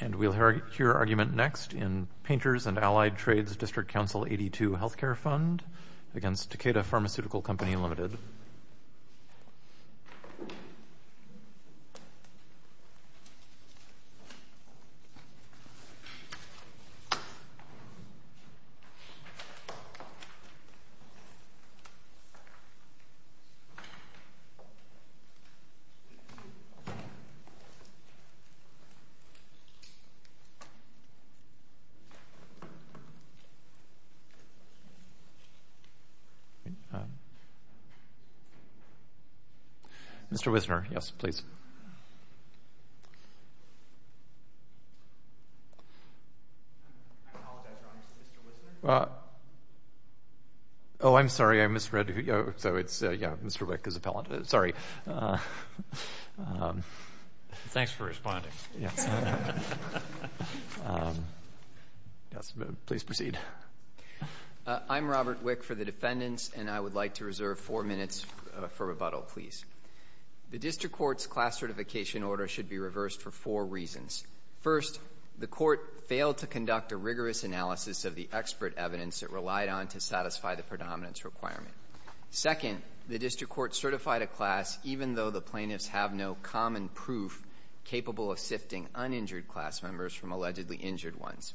And we'll hear your argument next in Painters & Allied Trades District Council 82 Health Care Fund against Takeda Pharmaceutical Company Limited. Mr. Wisner, yes, please. I apologize, Your Honor, Mr. Wisner. Oh, I'm sorry, I misread. So it's, yeah, Mr. Wick is appellant. Sorry. Thanks for responding. Please proceed. I'm Robert Wick for the defendants, and I would like to reserve four minutes for rebuttal, please. The district court's class certification order should be reversed for four reasons. First, the court failed to conduct a rigorous analysis of the expert evidence it relied on to satisfy the predominance requirement. Second, the district court certified a class even though the plaintiffs have no common proof capable of sifting uninjured class members from allegedly injured ones.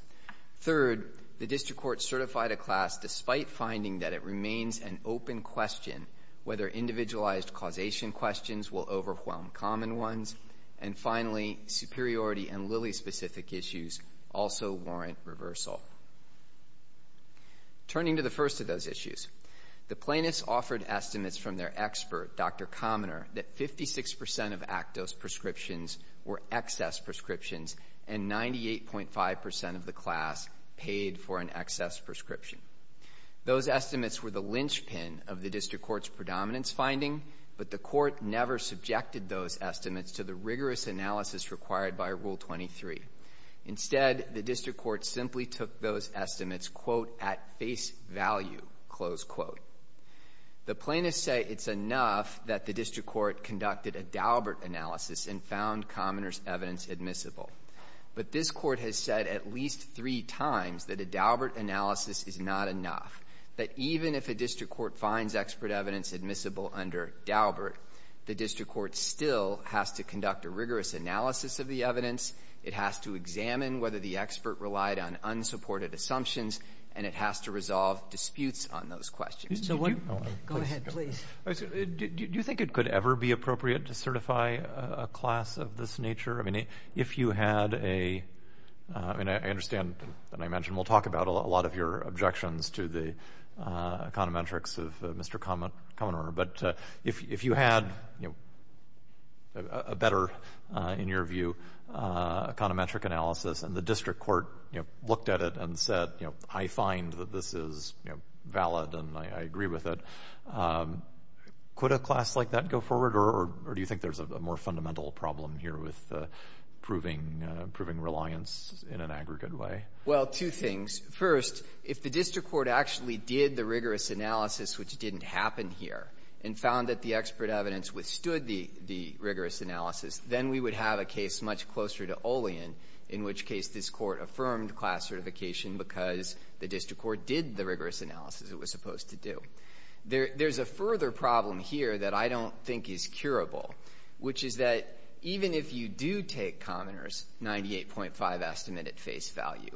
Third, the district court certified a class despite finding that it remains an open question whether individualized causation questions will overwhelm common ones. And finally, superiority and Lilly-specific issues also warrant reversal. Turning to the first of those issues, the plaintiffs offered estimates from their expert, Dr. Commoner, that 56% of ACTOS prescriptions were excess prescriptions and 98.5% of the class paid for an excess prescription. Those estimates were the linchpin of the district court's predominance finding, but the court never subjected those estimates to the rigorous analysis required by Rule 23. Instead, the district court simply took those estimates, quote, at face value, close quote. The plaintiffs say it's enough that the district court conducted a Daubert analysis and found Commoner's evidence admissible. But this court has said at least three times that a Daubert analysis is not enough, that even if a district court finds expert evidence admissible under Daubert, the district court still has to conduct a rigorous analysis of the evidence, it has to examine whether the expert relied on unsupported assumptions, and it has to resolve disputes on those questions. Go ahead, please. Do you think it could ever be appropriate to certify a class of this nature? I mean, if you had a — I mean, I understand, and I mentioned, we'll talk about a lot of your objections to the econometrics of Mr. Commoner, but if you had a better, in your view, econometric analysis, and the district court looked at it and said, you know, I find that this is valid and I agree with it, could a class like that go forward, or do you think there's a more fundamental problem here with proving reliance in an aggregate way? Well, two things. First, if the district court actually did the rigorous analysis, which didn't happen here, and found that the expert evidence withstood the rigorous analysis, then we would have a case much closer to Olian, in which case this Court affirmed class certification because the district court did the rigorous analysis it was supposed to do. There's a further problem here that I don't think is curable, which is that even if you do take Commoner's 98.5 estimate at face value,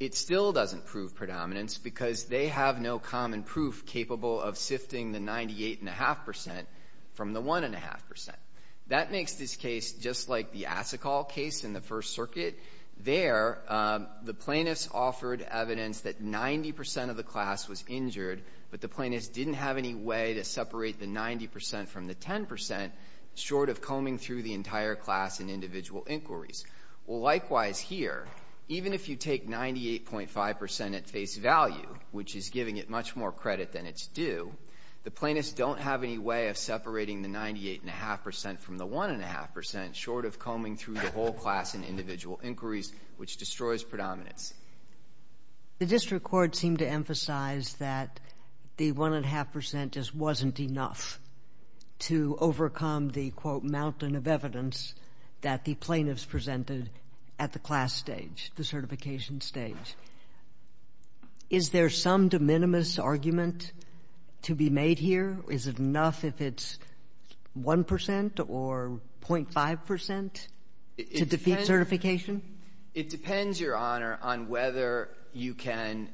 it still doesn't prove predominance because they have no common proof capable of sifting the 98.5 percent from the 1.5 percent. That makes this case just like the Asikal case in the First Circuit. There, the plaintiffs offered evidence that 90 percent of the class was injured, but the plaintiffs didn't have any way to separate the 90 percent from the 10 percent, short of combing through the entire class in individual inquiries. Well, likewise here, even if you take 98.5 percent at face value, which is giving it much more credit than it's due, the plaintiffs don't have any way of separating the 98.5 percent from the 1.5 percent, short of combing through the whole class in individual inquiries, which destroys predominance. The district court seemed to emphasize that the 1.5 percent just wasn't enough to overcome the, quote, mountain of evidence that the plaintiffs presented at the class stage, the certification stage. Is there some de minimis argument to be made here? Is it enough if it's 1 percent or 0.5 percent to defeat certification? It depends, Your Honor, on whether you can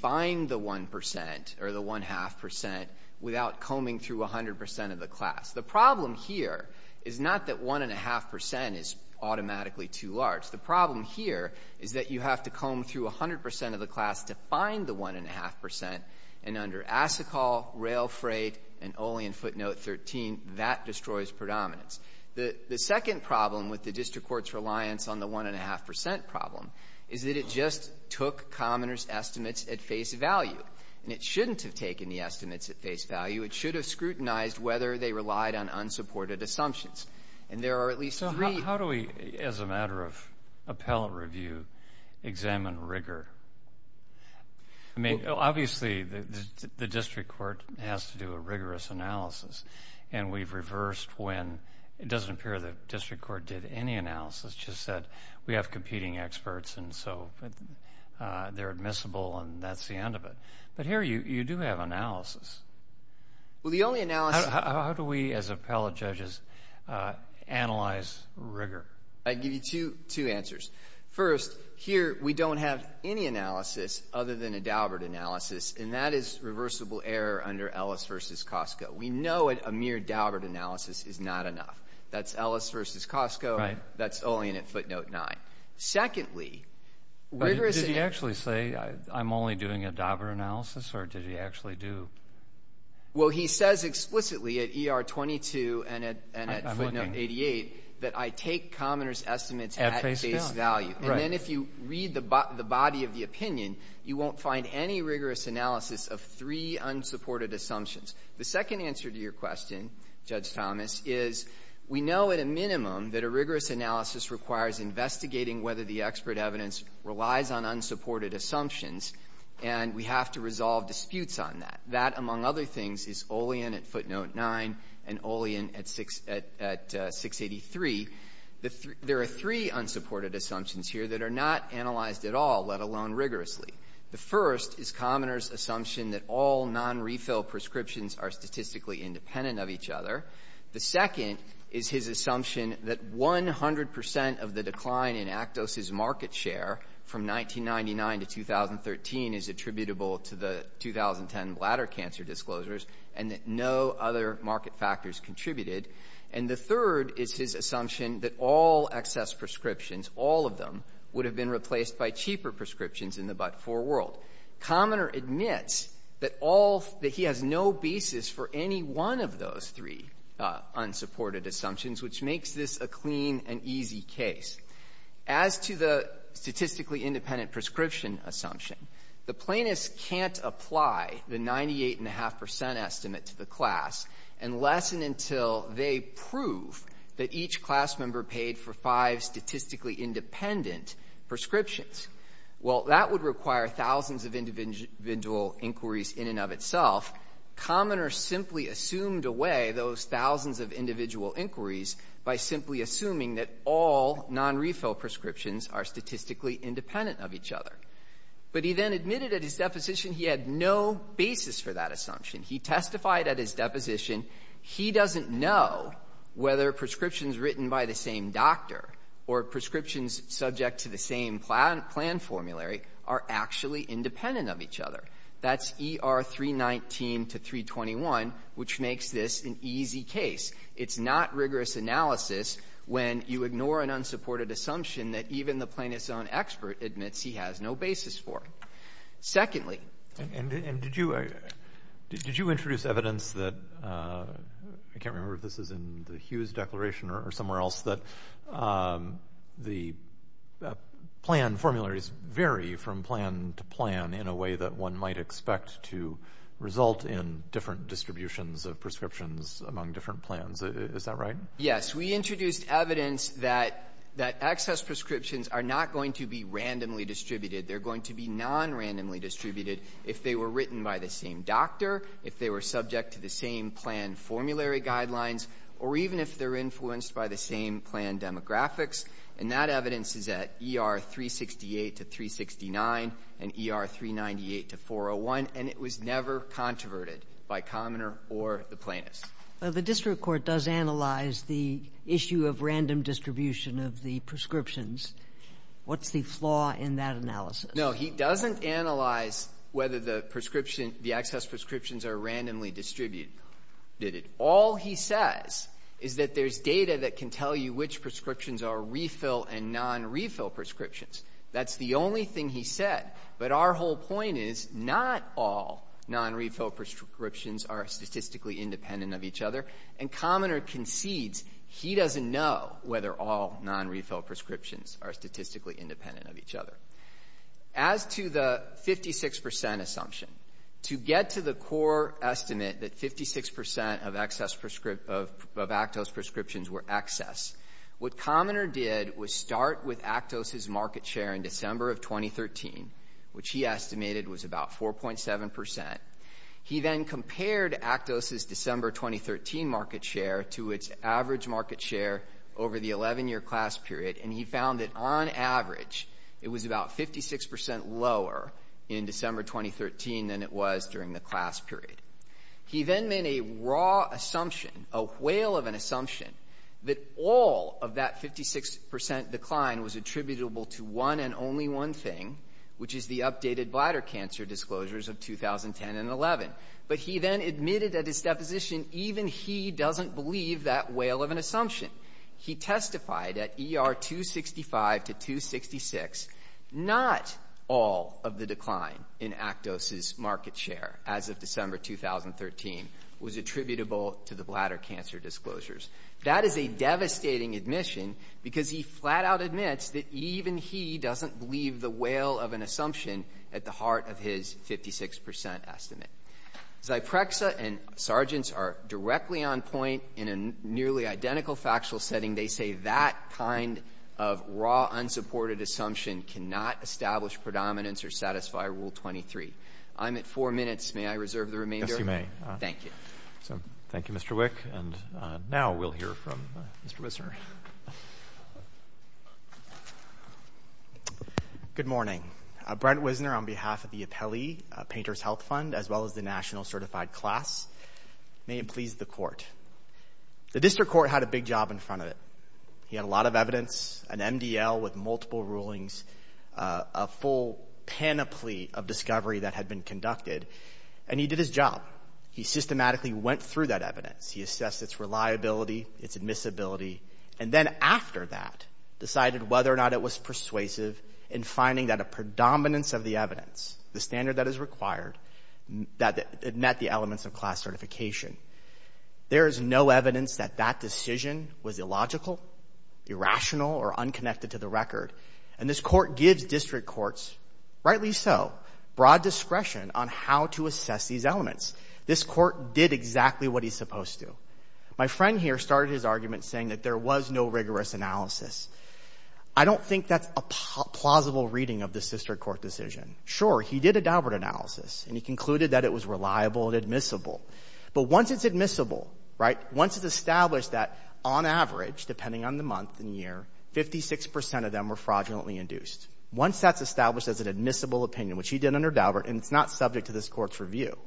find the 1 percent or the 1.5 percent without combing through 100 percent of the class. The problem here is not that 1.5 percent is automatically too large. The problem here is that you have to comb through 100 percent of the class to find the 1.5 percent. And under ASICOL, Rail Freight, and only in footnote 13, that destroys predominance. The second problem with the district court's reliance on the 1.5 percent problem is that it just took commoners' estimates at face value. And it shouldn't have taken the estimates at face value. It should have scrutinized whether they relied on unsupported assumptions. And there are at least three. So how do we, as a matter of appellate review, examine rigor? I mean, obviously, the district court has to do a rigorous analysis, and we've reversed when it doesn't appear the district court did any analysis, just that we have competing experts, and so they're admissible, and that's the end of it. But here you do have analysis. How do we, as appellate judges, analyze rigor? I can give you two answers. First, here we don't have any analysis other than a Daubert analysis, and that is reversible error under Ellis v. Costco. We know a mere Daubert analysis is not enough. That's Ellis v. Costco. That's only in footnote 9. Secondly, rigorous analysis. Did he actually say, I'm only doing a Daubert analysis, or did he actually do? Well, he says explicitly at ER 22 and at footnote 88 that I take commoners' estimates at face value. And then if you read the body of the opinion, you won't find any rigorous analysis of three unsupported assumptions. The second answer to your question, Judge Thomas, is we know at a minimum that a rigorous analysis requires investigating whether the expert evidence relies on unsupported assumptions, and we have to resolve disputes on that. That, among other things, is Olean at footnote 9 and Olean at 683. There are three unsupported assumptions here that are not analyzed at all, let alone rigorously. The first is commoners' assumption that all nonrefill prescriptions are statistically independent of each other. The second is his assumption that 100 percent of the decline in Actos's market share from 1999 to 2013 is attributable to the 2010 bladder cancer disclosures and that no other market factors contributed. And the third is his assumption that all excess prescriptions, all of them, would have been replaced by cheaper prescriptions in the but-for world. Commoner admits that all — that he has no basis for any one of those three unsupported assumptions, which makes this a clean and easy case. As to the statistically independent prescription assumption, the plaintiffs can't apply the 98.5 percent estimate to the class unless and until they prove that each class member paid for five statistically independent prescriptions. Well, that would require thousands of individual inquiries in and of itself. Commoner simply assumed away those thousands of individual inquiries by simply assuming that all nonrefill prescriptions are statistically independent of each other. But he then admitted at his deposition he had no basis for that assumption. He testified at his deposition he doesn't know whether prescriptions written by the same doctor or prescriptions subject to the same plan formulary are actually independent of each other. That's ER 319 to 321, which makes this an easy case. It's not rigorous analysis when you ignore an unsupported assumption that even the plaintiff's own expert admits he has no basis for. Secondly — And did you — did you introduce evidence that — I can't remember if this is in the Hughes Declaration or somewhere else — that the plan formularies vary from plan to plan in a way that one might expect to result in different distributions of prescriptions among different plans? Is that right? Yes. We introduced evidence that access prescriptions are not going to be randomly distributed. They're going to be nonrandomly distributed if they were written by the same doctor, even if they're influenced by the same plan demographics. And that evidence is at ER 368 to 369 and ER 398 to 401, and it was never controverted by Commoner or the plaintiffs. Well, the district court does analyze the issue of random distribution of the prescriptions. What's the flaw in that analysis? No. He doesn't analyze whether the prescription — the access prescriptions are randomly distributed. All he says is that there's data that can tell you which prescriptions are refill and nonrefill prescriptions. That's the only thing he said. But our whole point is not all nonrefill prescriptions are statistically independent of each other, and Commoner concedes he doesn't know whether all nonrefill prescriptions are statistically independent of each other. As to the 56 percent assumption, to get to the core estimate that 56 percent of excess — of Actos prescriptions were excess, what Commoner did was start with Actos's market share in December of 2013, which he estimated was about 4.7 percent. He then compared Actos's December 2013 market share to its average market share over the 11-year class period. And he found that, on average, it was about 56 percent lower in December 2013 than it was during the class period. He then made a raw assumption, a whale of an assumption, that all of that 56 percent decline was attributable to one and only one thing, which is the updated bladder cancer disclosures of 2010 and 11. But he then admitted at his deposition even he doesn't believe that whale of an assumption. He testified at ER 265 to 266, not all of the decline in Actos's market share as of December 2013 was attributable to the bladder cancer disclosures. That is a devastating admission because he flat-out admits that even he doesn't believe the whale of an assumption at the heart of his 56 percent estimate. Zyprexa and Sargent's are directly on point in a nearly identical factoring factual setting. They say that kind of raw, unsupported assumption cannot establish predominance or satisfy Rule 23. I'm at four minutes. May I reserve the remainder? Yes, you may. Thank you. Thank you, Mr. Wick. And now we'll hear from Mr. Wisner. Good morning. Brent Wisner on behalf of the Apelli Painters' Health Fund, as well as the National Certified Class. May it please the Court. The district court had a big job in front of it. He had a lot of evidence, an MDL with multiple rulings, a full panoply of discovery that had been conducted, and he did his job. He systematically went through that evidence. He assessed its reliability, its admissibility, and then after that decided whether or not it was persuasive in finding that a predominance of the evidence, the standard that is required, met the elements of class certification. There is no evidence that that decision was illogical, irrational, or unconnected to the record, and this court gives district courts, rightly so, broad discretion on how to assess these elements. This court did exactly what he's supposed to. My friend here started his argument saying that there was no rigorous analysis. I don't think that's a plausible reading of this district court decision. Sure, he did a Daubert analysis, and he concluded that it was reliable and admissible. But once it's admissible, right, once it's established that on average, depending on the month and year, 56 percent of them were fraudulently induced. Once that's established as an admissible opinion, which he did under Daubert, and it's not subject to this Court's review,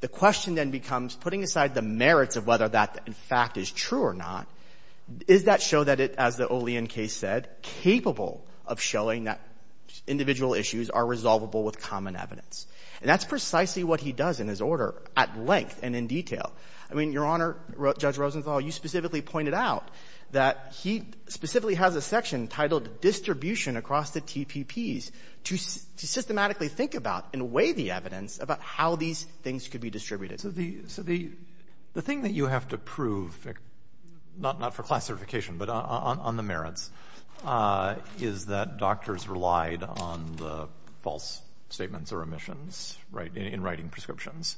the question then becomes, putting aside the merits of whether that, in fact, is true or not, is that show that it, as the Olean case said, capable of showing that individual issues are resolvable with common evidence. And that's precisely what he does in his order at length and in detail. I mean, Your Honor, Judge Rosenthal, you specifically pointed out that he specifically has a section titled distribution across the TPPs to systematically think about and weigh the evidence about how these things could be distributed. So the thing that you have to prove, not for class certification, but on the merits, is that doctors relied on the false statements or omissions, right, in writing prescriptions.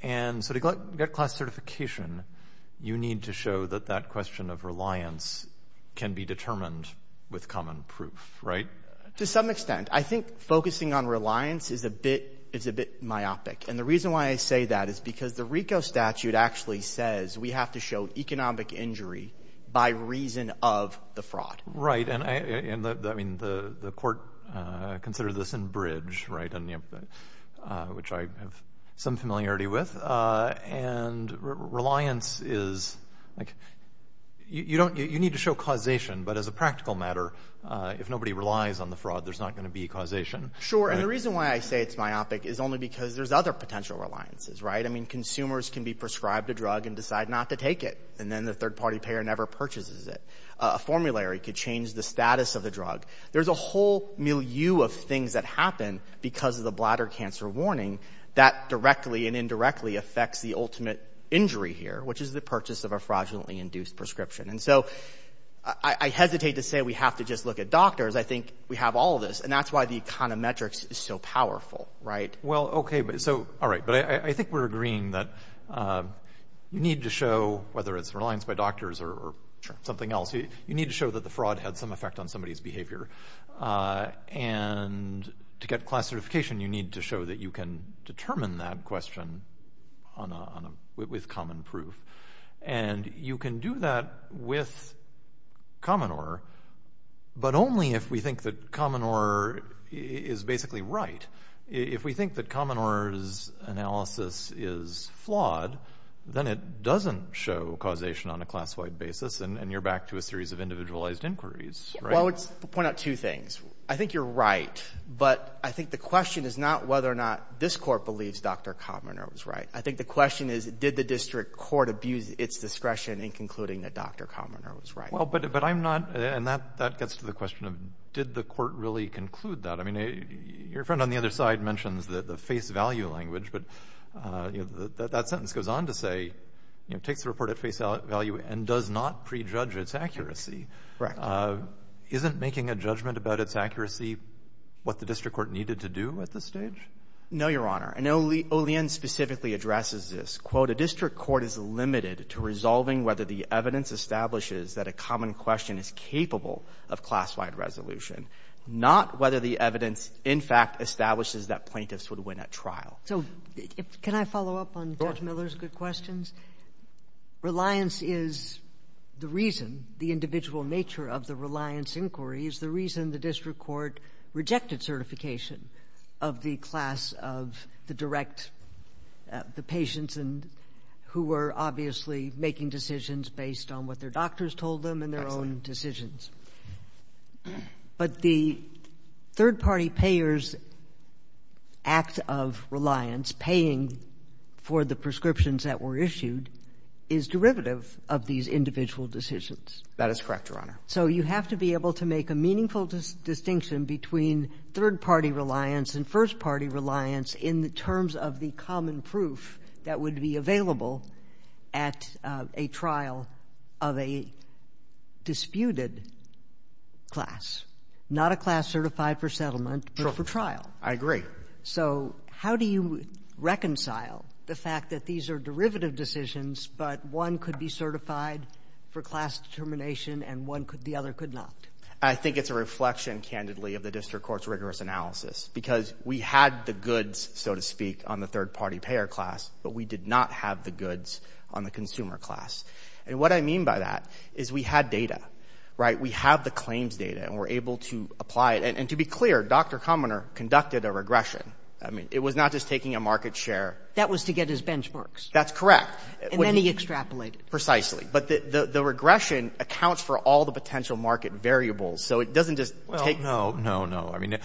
And so to get class certification, you need to show that that question of reliance can be determined with common proof, right? To some extent. I think focusing on reliance is a bit myopic. And the reason why I say that is because the RICO statute actually says we have to show economic injury by reason of the fraud. And I mean, the Court considered this in Bridge, right, which I have some familiarity with. And reliance is, like, you need to show causation, but as a practical matter, if nobody relies on the fraud, there's not going to be causation. Sure. And the reason why I say it's myopic is only because there's other potential reliances, right? I mean, consumers can be prescribed a drug and decide not to take it. And then the third-party payer never purchases it. A formulary could change the status of the drug. There's a whole milieu of things that happen because of the bladder cancer warning that directly and indirectly affects the ultimate injury here, which is the purchase of a fraudulently induced prescription. And so I hesitate to say we have to just look at doctors. I think we have all of this. And that's why the econometrics is so powerful, right? Well, okay. So, all right. But I think we're agreeing that you need to show, whether it's reliance by doctors or something else, you need to show that the fraud had some effect on somebody's And to get class certification, you need to show that you can determine that question with common proof. And you can do that with common order, but only if we think that common order is basically right. If we think that common order's analysis is flawed, then it doesn't show causation on a class-wide basis, and you're back to a series of individualized inquiries, right? Well, I would point out two things. I think you're right, but I think the question is not whether or not this court believes Dr. Commoner was right. I think the question is, did the district court abuse its discretion in concluding that Dr. Commoner was right? Well, but I'm not, and that gets to the question of did the court really conclude that? I mean, your friend on the other side mentions the face value language, but that sentence goes on to say, you know, takes the report at face value and does not prejudge its accuracy. Correct. Isn't making a judgment about its accuracy what the district court needed to do at this stage? No, Your Honor. And Olien specifically addresses this. Quote, a district court is limited to resolving whether the evidence establishes that a common question is capable of class-wide resolution, not whether the evidence in fact establishes that plaintiffs would win at trial. So can I follow up on Judge Miller's good questions? Sure. Reliance is the reason, the individual nature of the reliance inquiry is the reason the district court rejected certification of the class of the direct, the patients who were obviously making decisions based on what their doctors told them and their own decisions. But the third-party payers' act of reliance, paying for the prescriptions that were issued, is derivative of these individual decisions. That is correct, Your Honor. So you have to be able to make a meaningful distinction between third-party reliance and first-party reliance in terms of the common proof that would be available at a trial of a disputed class. Not a class certified for settlement, but for trial. I agree. So how do you reconcile the fact that these are derivative decisions, but one could not be certified for class determination, and one could, the other could not? I think it's a reflection, candidly, of the district court's rigorous analysis, because we had the goods, so to speak, on the third-party payer class, but we did not have the goods on the consumer class. And what I mean by that is we had data, right? We have the claims data, and we're able to apply it. And to be clear, Dr. Kaminer conducted a regression. I mean, it was not just taking a market share. That was to get his benchmarks. That's correct. And then he extrapolated. But the regression accounts for all the potential market variables, so it doesn't just take Well, no, no, no. I mean,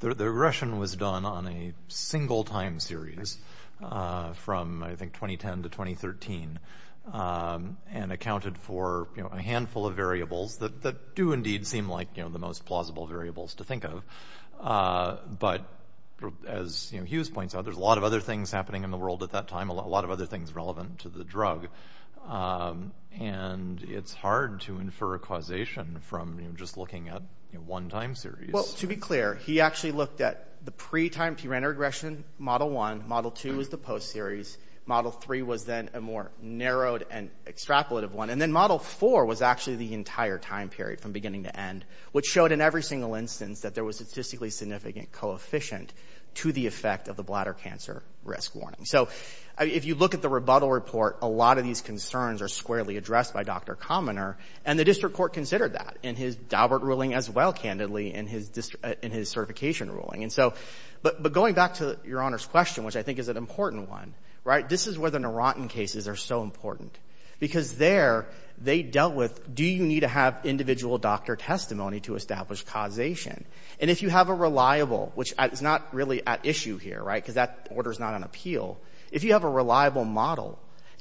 the regression was done on a single time series from, I think, 2010 to 2013, and accounted for a handful of variables that do indeed seem like the most plausible variables to think of. But as Hughes points out, there's a lot of other things happening in the world at that time, a lot of other things relevant to the drug, and it's hard to infer a causation from just looking at one time series. Well, to be clear, he actually looked at the pre-time pre-render regression, Model 1. Model 2 was the post-series. Model 3 was then a more narrowed and extrapolated one. And then Model 4 was actually the entire time period from beginning to end, which showed in every single instance that there was a statistically significant coefficient to the effect of the bladder cancer risk warning. So if you look at the rebuttal report, a lot of these concerns are squarely addressed by Dr. Commoner, and the district court considered that in his Daubert ruling as well, candidly, in his certification ruling. And so, but going back to Your Honor's question, which I think is an important one, right, this is where the Narantan cases are so important, because there they dealt with do you need to have individual doctor testimony to establish causation? And if you have a reliable, which is not really at issue here, right, because that order is not on appeal, if you have a reliable model,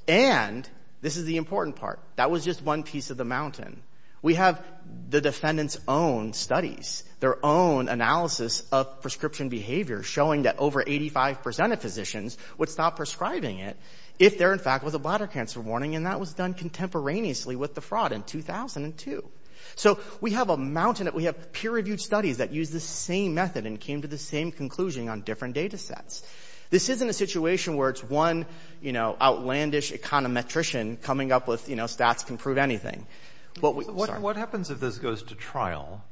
and this is the important part, that was just one piece of the mountain, we have the defendant's own studies, their own analysis of prescription behavior showing that over 85% of physicians would stop prescribing it if there in fact was a bladder cancer warning, and that was done contemporaneously with the fraud in 2002. So we have a mountain, we have peer-reviewed studies that use the same method and came to the same conclusion on different data sets. This isn't a situation where it's one, you know, outlandish econometrician coming up with, you know, stats can prove anything. What happens if this goes to trial,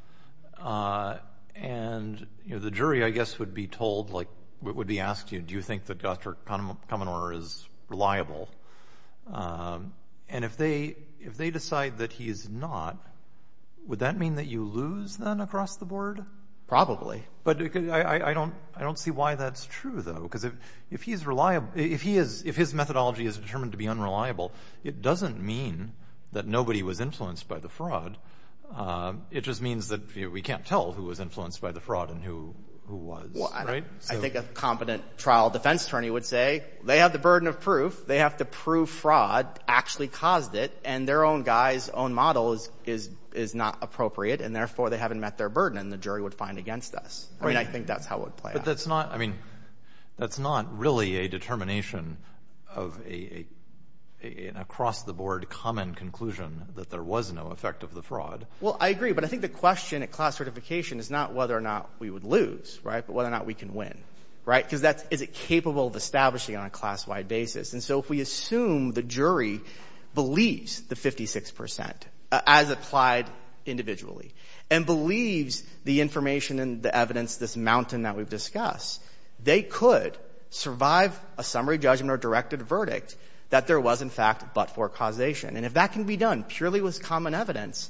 and, you know, the jury, I guess, would be told, like, would be asked, you know, do you think that Dr. Commoner is reliable? And if they decide that he is not, would that mean that you lose, then, across the board? Probably. But I don't see why that's true, though, because if he's reliable, if his methodology is determined to be unreliable, it doesn't mean that nobody was influenced by the fraud. It just means that we can't tell who was influenced by the fraud and who was. Well, I think a competent trial defense attorney would say, they have the burden of proof, they have to prove fraud actually caused it, and their own guy's own model is not appropriate, and therefore they haven't met their burden, and the jury would find against us. I mean, I think that's how it would play out. But that's not, I mean, that's not really a determination of an across-the-board common conclusion that there was no effect of the fraud. Well, I agree, but I think the question at class certification is not whether or not we would lose, right, but whether or not we can win, right, because that's, is it capable of establishing on a class-wide basis? And so if we assume the jury believes the 56 percent, as applied individually, and believes the information and the evidence, this mountain that we've discussed, they could survive a summary judgment or directed verdict that there was, in fact, but-for causation. And if that can be done purely with common evidence,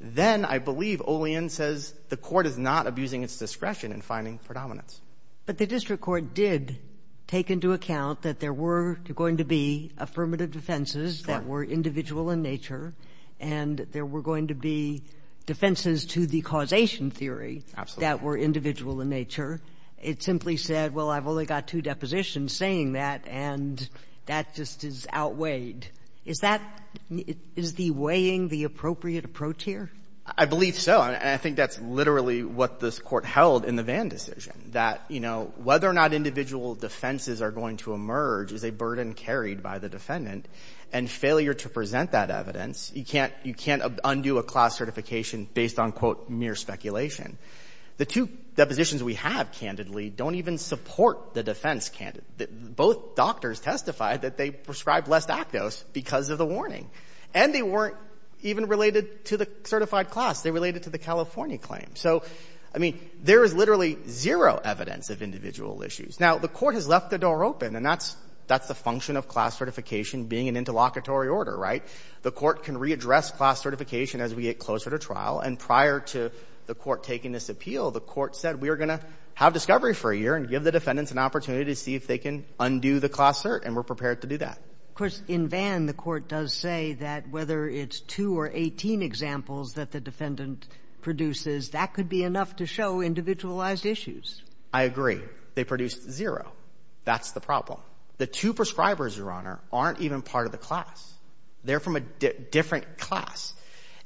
then I believe Olien says the Court is not abusing its discretion in finding predominance. But the district court did take into account that there were going to be affirmative defenses that were individual in nature, and there were going to be defenses to the causation theory that were individual in nature. It simply said, well, I've only got two depositions saying that, and that just is outweighed. Is that, is the weighing the appropriate approach here? I believe so. And I think that's literally what this Court held in the Vann decision, that, you know, whether or not individual defenses are going to emerge is a burden carried by the defendant. And failure to present that evidence, you can't, you can't undo a class certification based on, quote, mere speculation. The two depositions we have, candidly, don't even support the defense. Both doctors testified that they prescribed less lactose because of the warning. And they weren't even related to the certified class. They related to the California claim. So, I mean, there is literally zero evidence of individual issues. Now, the Court has left the door open, and that's, that's the function of class certification being an interlocutory order, right? The Court can readdress class certification as we get closer to trial. And prior to the Court taking this appeal, the Court said we are going to have discovery for a year and give the defendants an opportunity to see if they can undo the class cert, and we're prepared to do that. Of course, in Vann, the Court does say that whether it's two or 18 examples that the defendant produces, that could be enough to show individualized issues. I agree. They produced zero. That's the problem. The two prescribers, Your Honor, aren't even part of the class. They're from a different class.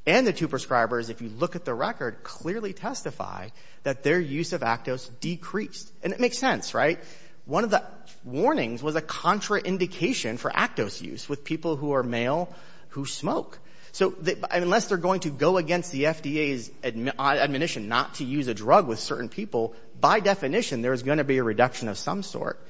And the two prescribers, if you look at the record, clearly testify that their use of lactose decreased. And it makes sense, right? One of the warnings was a contraindication for lactose use with people who are male who smoke. So unless they're going to go against the FDA's admonition not to use a drug with certain people, by definition, there is going to be a reduction of some sort.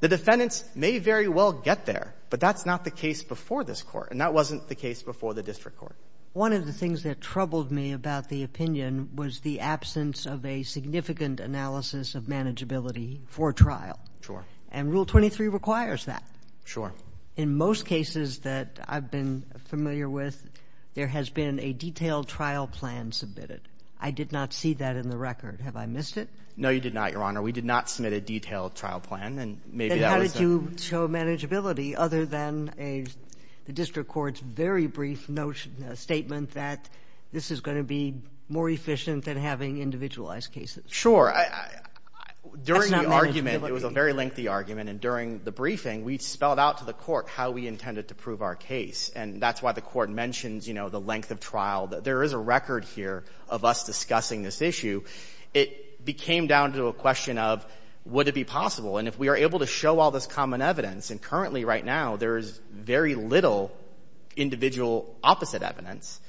The defendants may very well get there, but that's not the case before this Court, and that wasn't the case before the District Court. One of the things that troubled me about the opinion was the absence of a significant analysis of manageability for trial. Sure. And Rule 23 requires that. Sure. But in most cases that I've been familiar with, there has been a detailed trial plan submitted. I did not see that in the record. Have I missed it? No, you did not, Your Honor. We did not submit a detailed trial plan. And maybe that was— Then how did you show manageability other than the District Court's very brief statement that this is going to be more efficient than having individualized cases? Sure. During the argument— That's not manageability. During the argument and during the briefing, we spelled out to the Court how we intended to prove our case, and that's why the Court mentions, you know, the length of trial. There is a record here of us discussing this issue. It came down to a question of, would it be possible? And if we are able to show all this common evidence, and currently right now there is very little individual opposite evidence,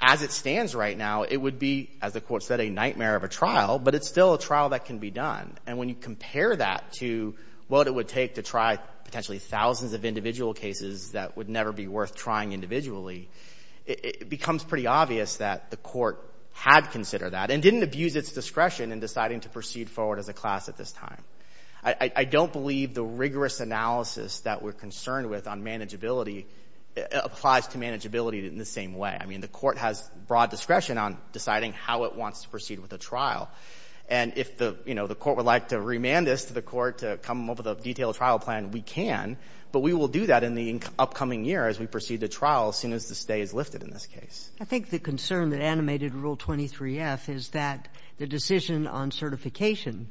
as it stands right now, it would be, as the Court said, a nightmare of a trial, but it's still a trial that can be done. And when you compare that to what it would take to try potentially thousands of individual cases that would never be worth trying individually, it becomes pretty obvious that the Court had considered that and didn't abuse its discretion in deciding to proceed forward as a class at this time. I don't believe the rigorous analysis that we're concerned with on manageability applies to manageability in the same way. I mean, the Court has broad discretion on deciding how it wants to proceed with a trial. And if the, you know, the Court would like to remand this to the Court to come up with a detailed trial plan, we can, but we will do that in the upcoming year as we proceed to trial as soon as the stay is lifted in this case. I think the concern that animated Rule 23-F is that the decision on certification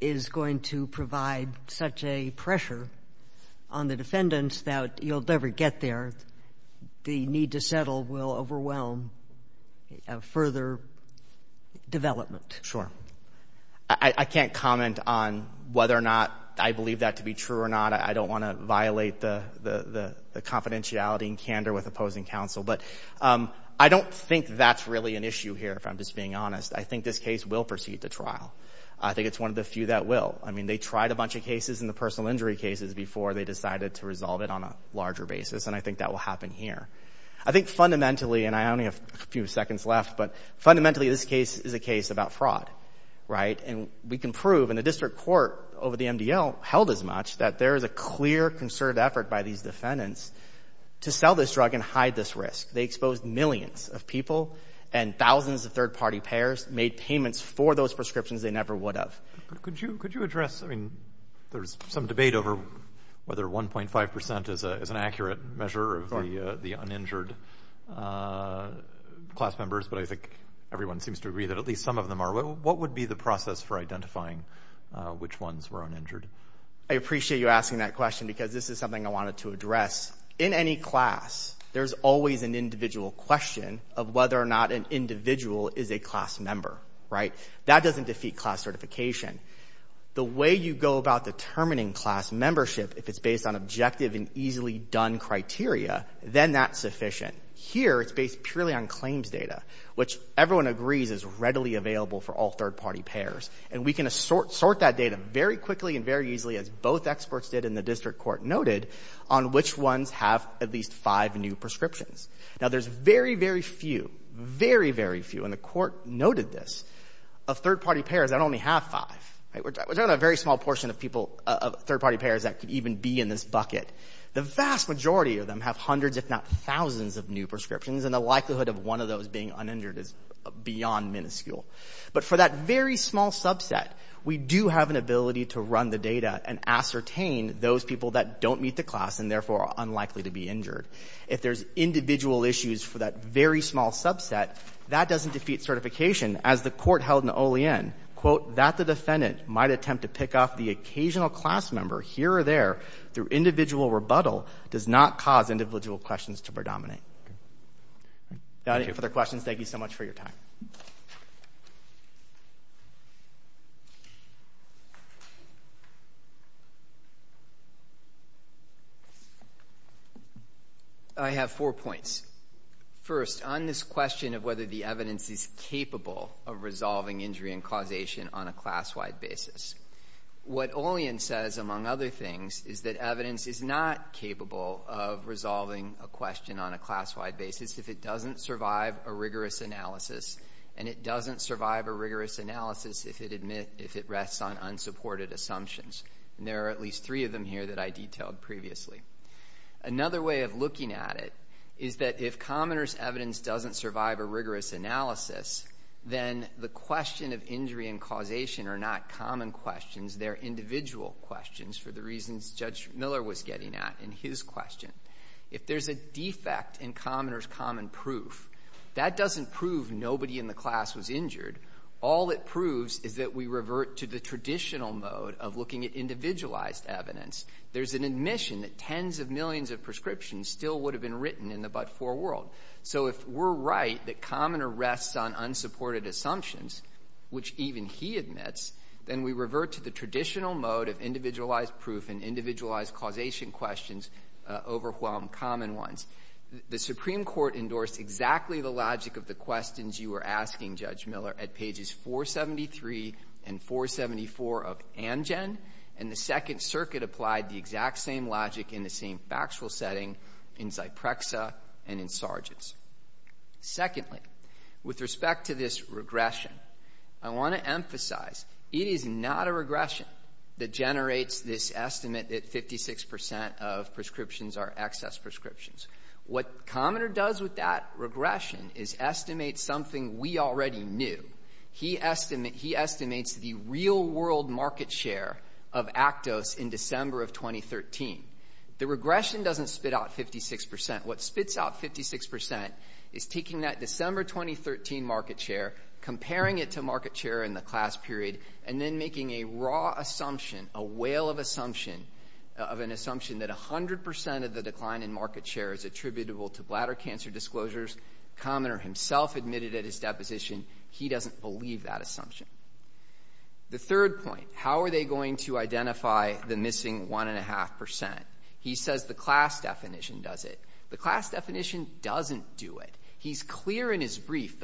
is going to provide such a pressure on the defendants that you'll never get there. The need to settle will overwhelm further development. I can't comment on whether or not I believe that to be true or not. I don't want to violate the confidentiality and candor with opposing counsel. But I don't think that's really an issue here, if I'm just being honest. I think this case will proceed to trial. I think it's one of the few that will. I mean, they tried a bunch of cases in the personal injury cases before they decided to resolve it on a larger basis, and I think that will happen here. I think fundamentally, and I only have a few seconds left, but fundamentally, this case is a case about fraud, right? And we can prove, and the District Court over the MDL held as much, that there is a clear, concerted effort by these defendants to sell this drug and hide this risk. They exposed millions of people and thousands of third-party payers made payments for those prescriptions they never would have. Could you address, I mean, there's some debate over whether 1.5 percent is an accurate measure of the uninjured class members, but I think everyone seems to agree that at least some of them are. What would be the process for identifying which ones were uninjured? I appreciate you asking that question because this is something I wanted to address. In any class, there's always an individual question of whether or not an individual is a class member, right? That doesn't defeat class certification. The way you go about determining class membership, if it's based on objective and easily done criteria, then that's sufficient. Here, it's based purely on claims data, which everyone agrees is readily available for all third-party payers, and we can sort that data very quickly and very easily, as both experts did and the District Court noted, on which ones have at least five new prescriptions. Now, there's very, very few, very, very few, and the Court noted this, of third-party payers that only have five, right? We're talking about a very small portion of people, of third-party payers that could even be in this bucket. The vast majority of them have hundreds, if not thousands, of new prescriptions, and the likelihood of one of those being uninjured is beyond minuscule. But for that very small subset, we do have an ability to run the data and ascertain those people that don't meet the class and therefore are unlikely to be injured. If there's individual issues for that very small subset, that doesn't defeat certification, as the Court held in Olien, quote, that the defendant might attempt to pick off the occasional class member here or there through individual rebuttal does not cause individual questions to predominate. Any further questions? Thank you so much for your time. I have four points. First, on this question of whether the evidence is capable of resolving injury and causation on a class-wide basis, what Olien says, among other things, is that evidence is not capable of resolving a question on a class-wide basis if it doesn't survive a rigorous analysis, and it doesn't survive a rigorous analysis if it rests on unsupported assumptions. And there are at least three of them here that I detailed previously. Another way of looking at it is that if commoner's evidence doesn't survive a rigorous analysis, then the question of injury and causation are not common questions. They're individual questions, for the reasons Judge Miller was getting at in his question. If there's a defect in commoner's common proof, that doesn't prove nobody in the class was injured. All it proves is that we revert to the traditional mode of looking at individualized evidence. There's an admission that tens of millions of prescriptions still would have been written in the but-for world. So if we're right that commoner rests on unsupported assumptions, which even he admits, then we revert to the traditional mode of individualized proof and individualized causation questions overwhelm common ones. The Supreme Court endorsed exactly the logic of the questions you were asking, Judge Miller, at pages 473 and 474 of Amgen, and the Second Circuit applied the exact same logic in the same factual setting in Zyprexa and in Sargent's. Secondly, with respect to this regression, I want to emphasize it is not a regression that generates this estimate that 56% of prescriptions are excess prescriptions. What commoner does with that regression is estimate something we already knew. He estimates the real-world market share of Actos in December of 2013. The regression doesn't spit out 56%. What spits out 56% is taking that December 2013 market share, comparing it to market share in the class period, and then making a raw assumption, a whale of assumption, of an assumption that 100% of the decline in market share is attributable to bladder cancer disclosures. Commoner himself admitted at his deposition he doesn't believe that assumption. The third point, how are they going to identify the missing 1.5%? He says the class definition does it. The class definition doesn't do it. He's clear in his brief.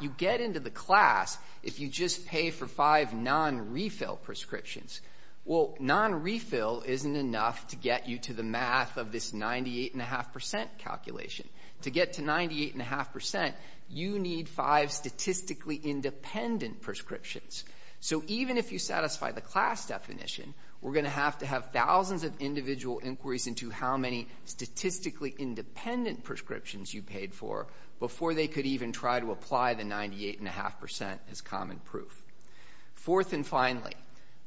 You get into the class if you just pay for five non-refill prescriptions. Well, non-refill isn't enough to get you to the math of this 98.5% calculation. To get to 98.5%, you need five statistically independent prescriptions. So even if you satisfy the class definition, we're going to have to have thousands of individual inquiries into how many statistically independent prescriptions you paid for before they could even try to apply the 98.5% as common proof. Fourth and finally,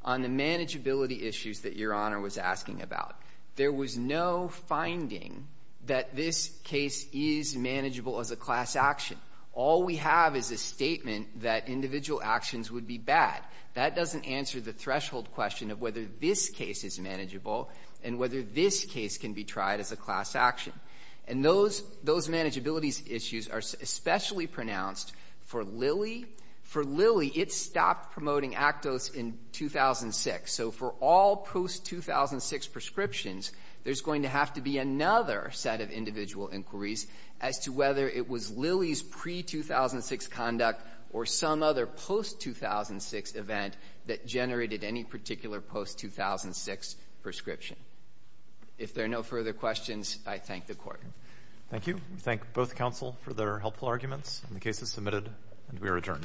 on the manageability issues that Your Honor was asking about, there was no finding that this case is manageable as a class action. All we have is a statement that individual actions would be bad. That doesn't answer the threshold question of whether this case is manageable and whether this case can be tried as a class action. And those manageability issues are especially pronounced for Lilly. For Lilly, it stopped promoting Actos in 2006. So for all post-2006 prescriptions, there's going to have to be another set of individual inquiries as to whether it was Lilly's pre-2006 conduct or some other post-2006 event that generated any particular post-2006 prescription. If there are no further questions, I thank the Court. Thank you. We thank both counsel for their helpful arguments. The case is submitted, and we are adjourned.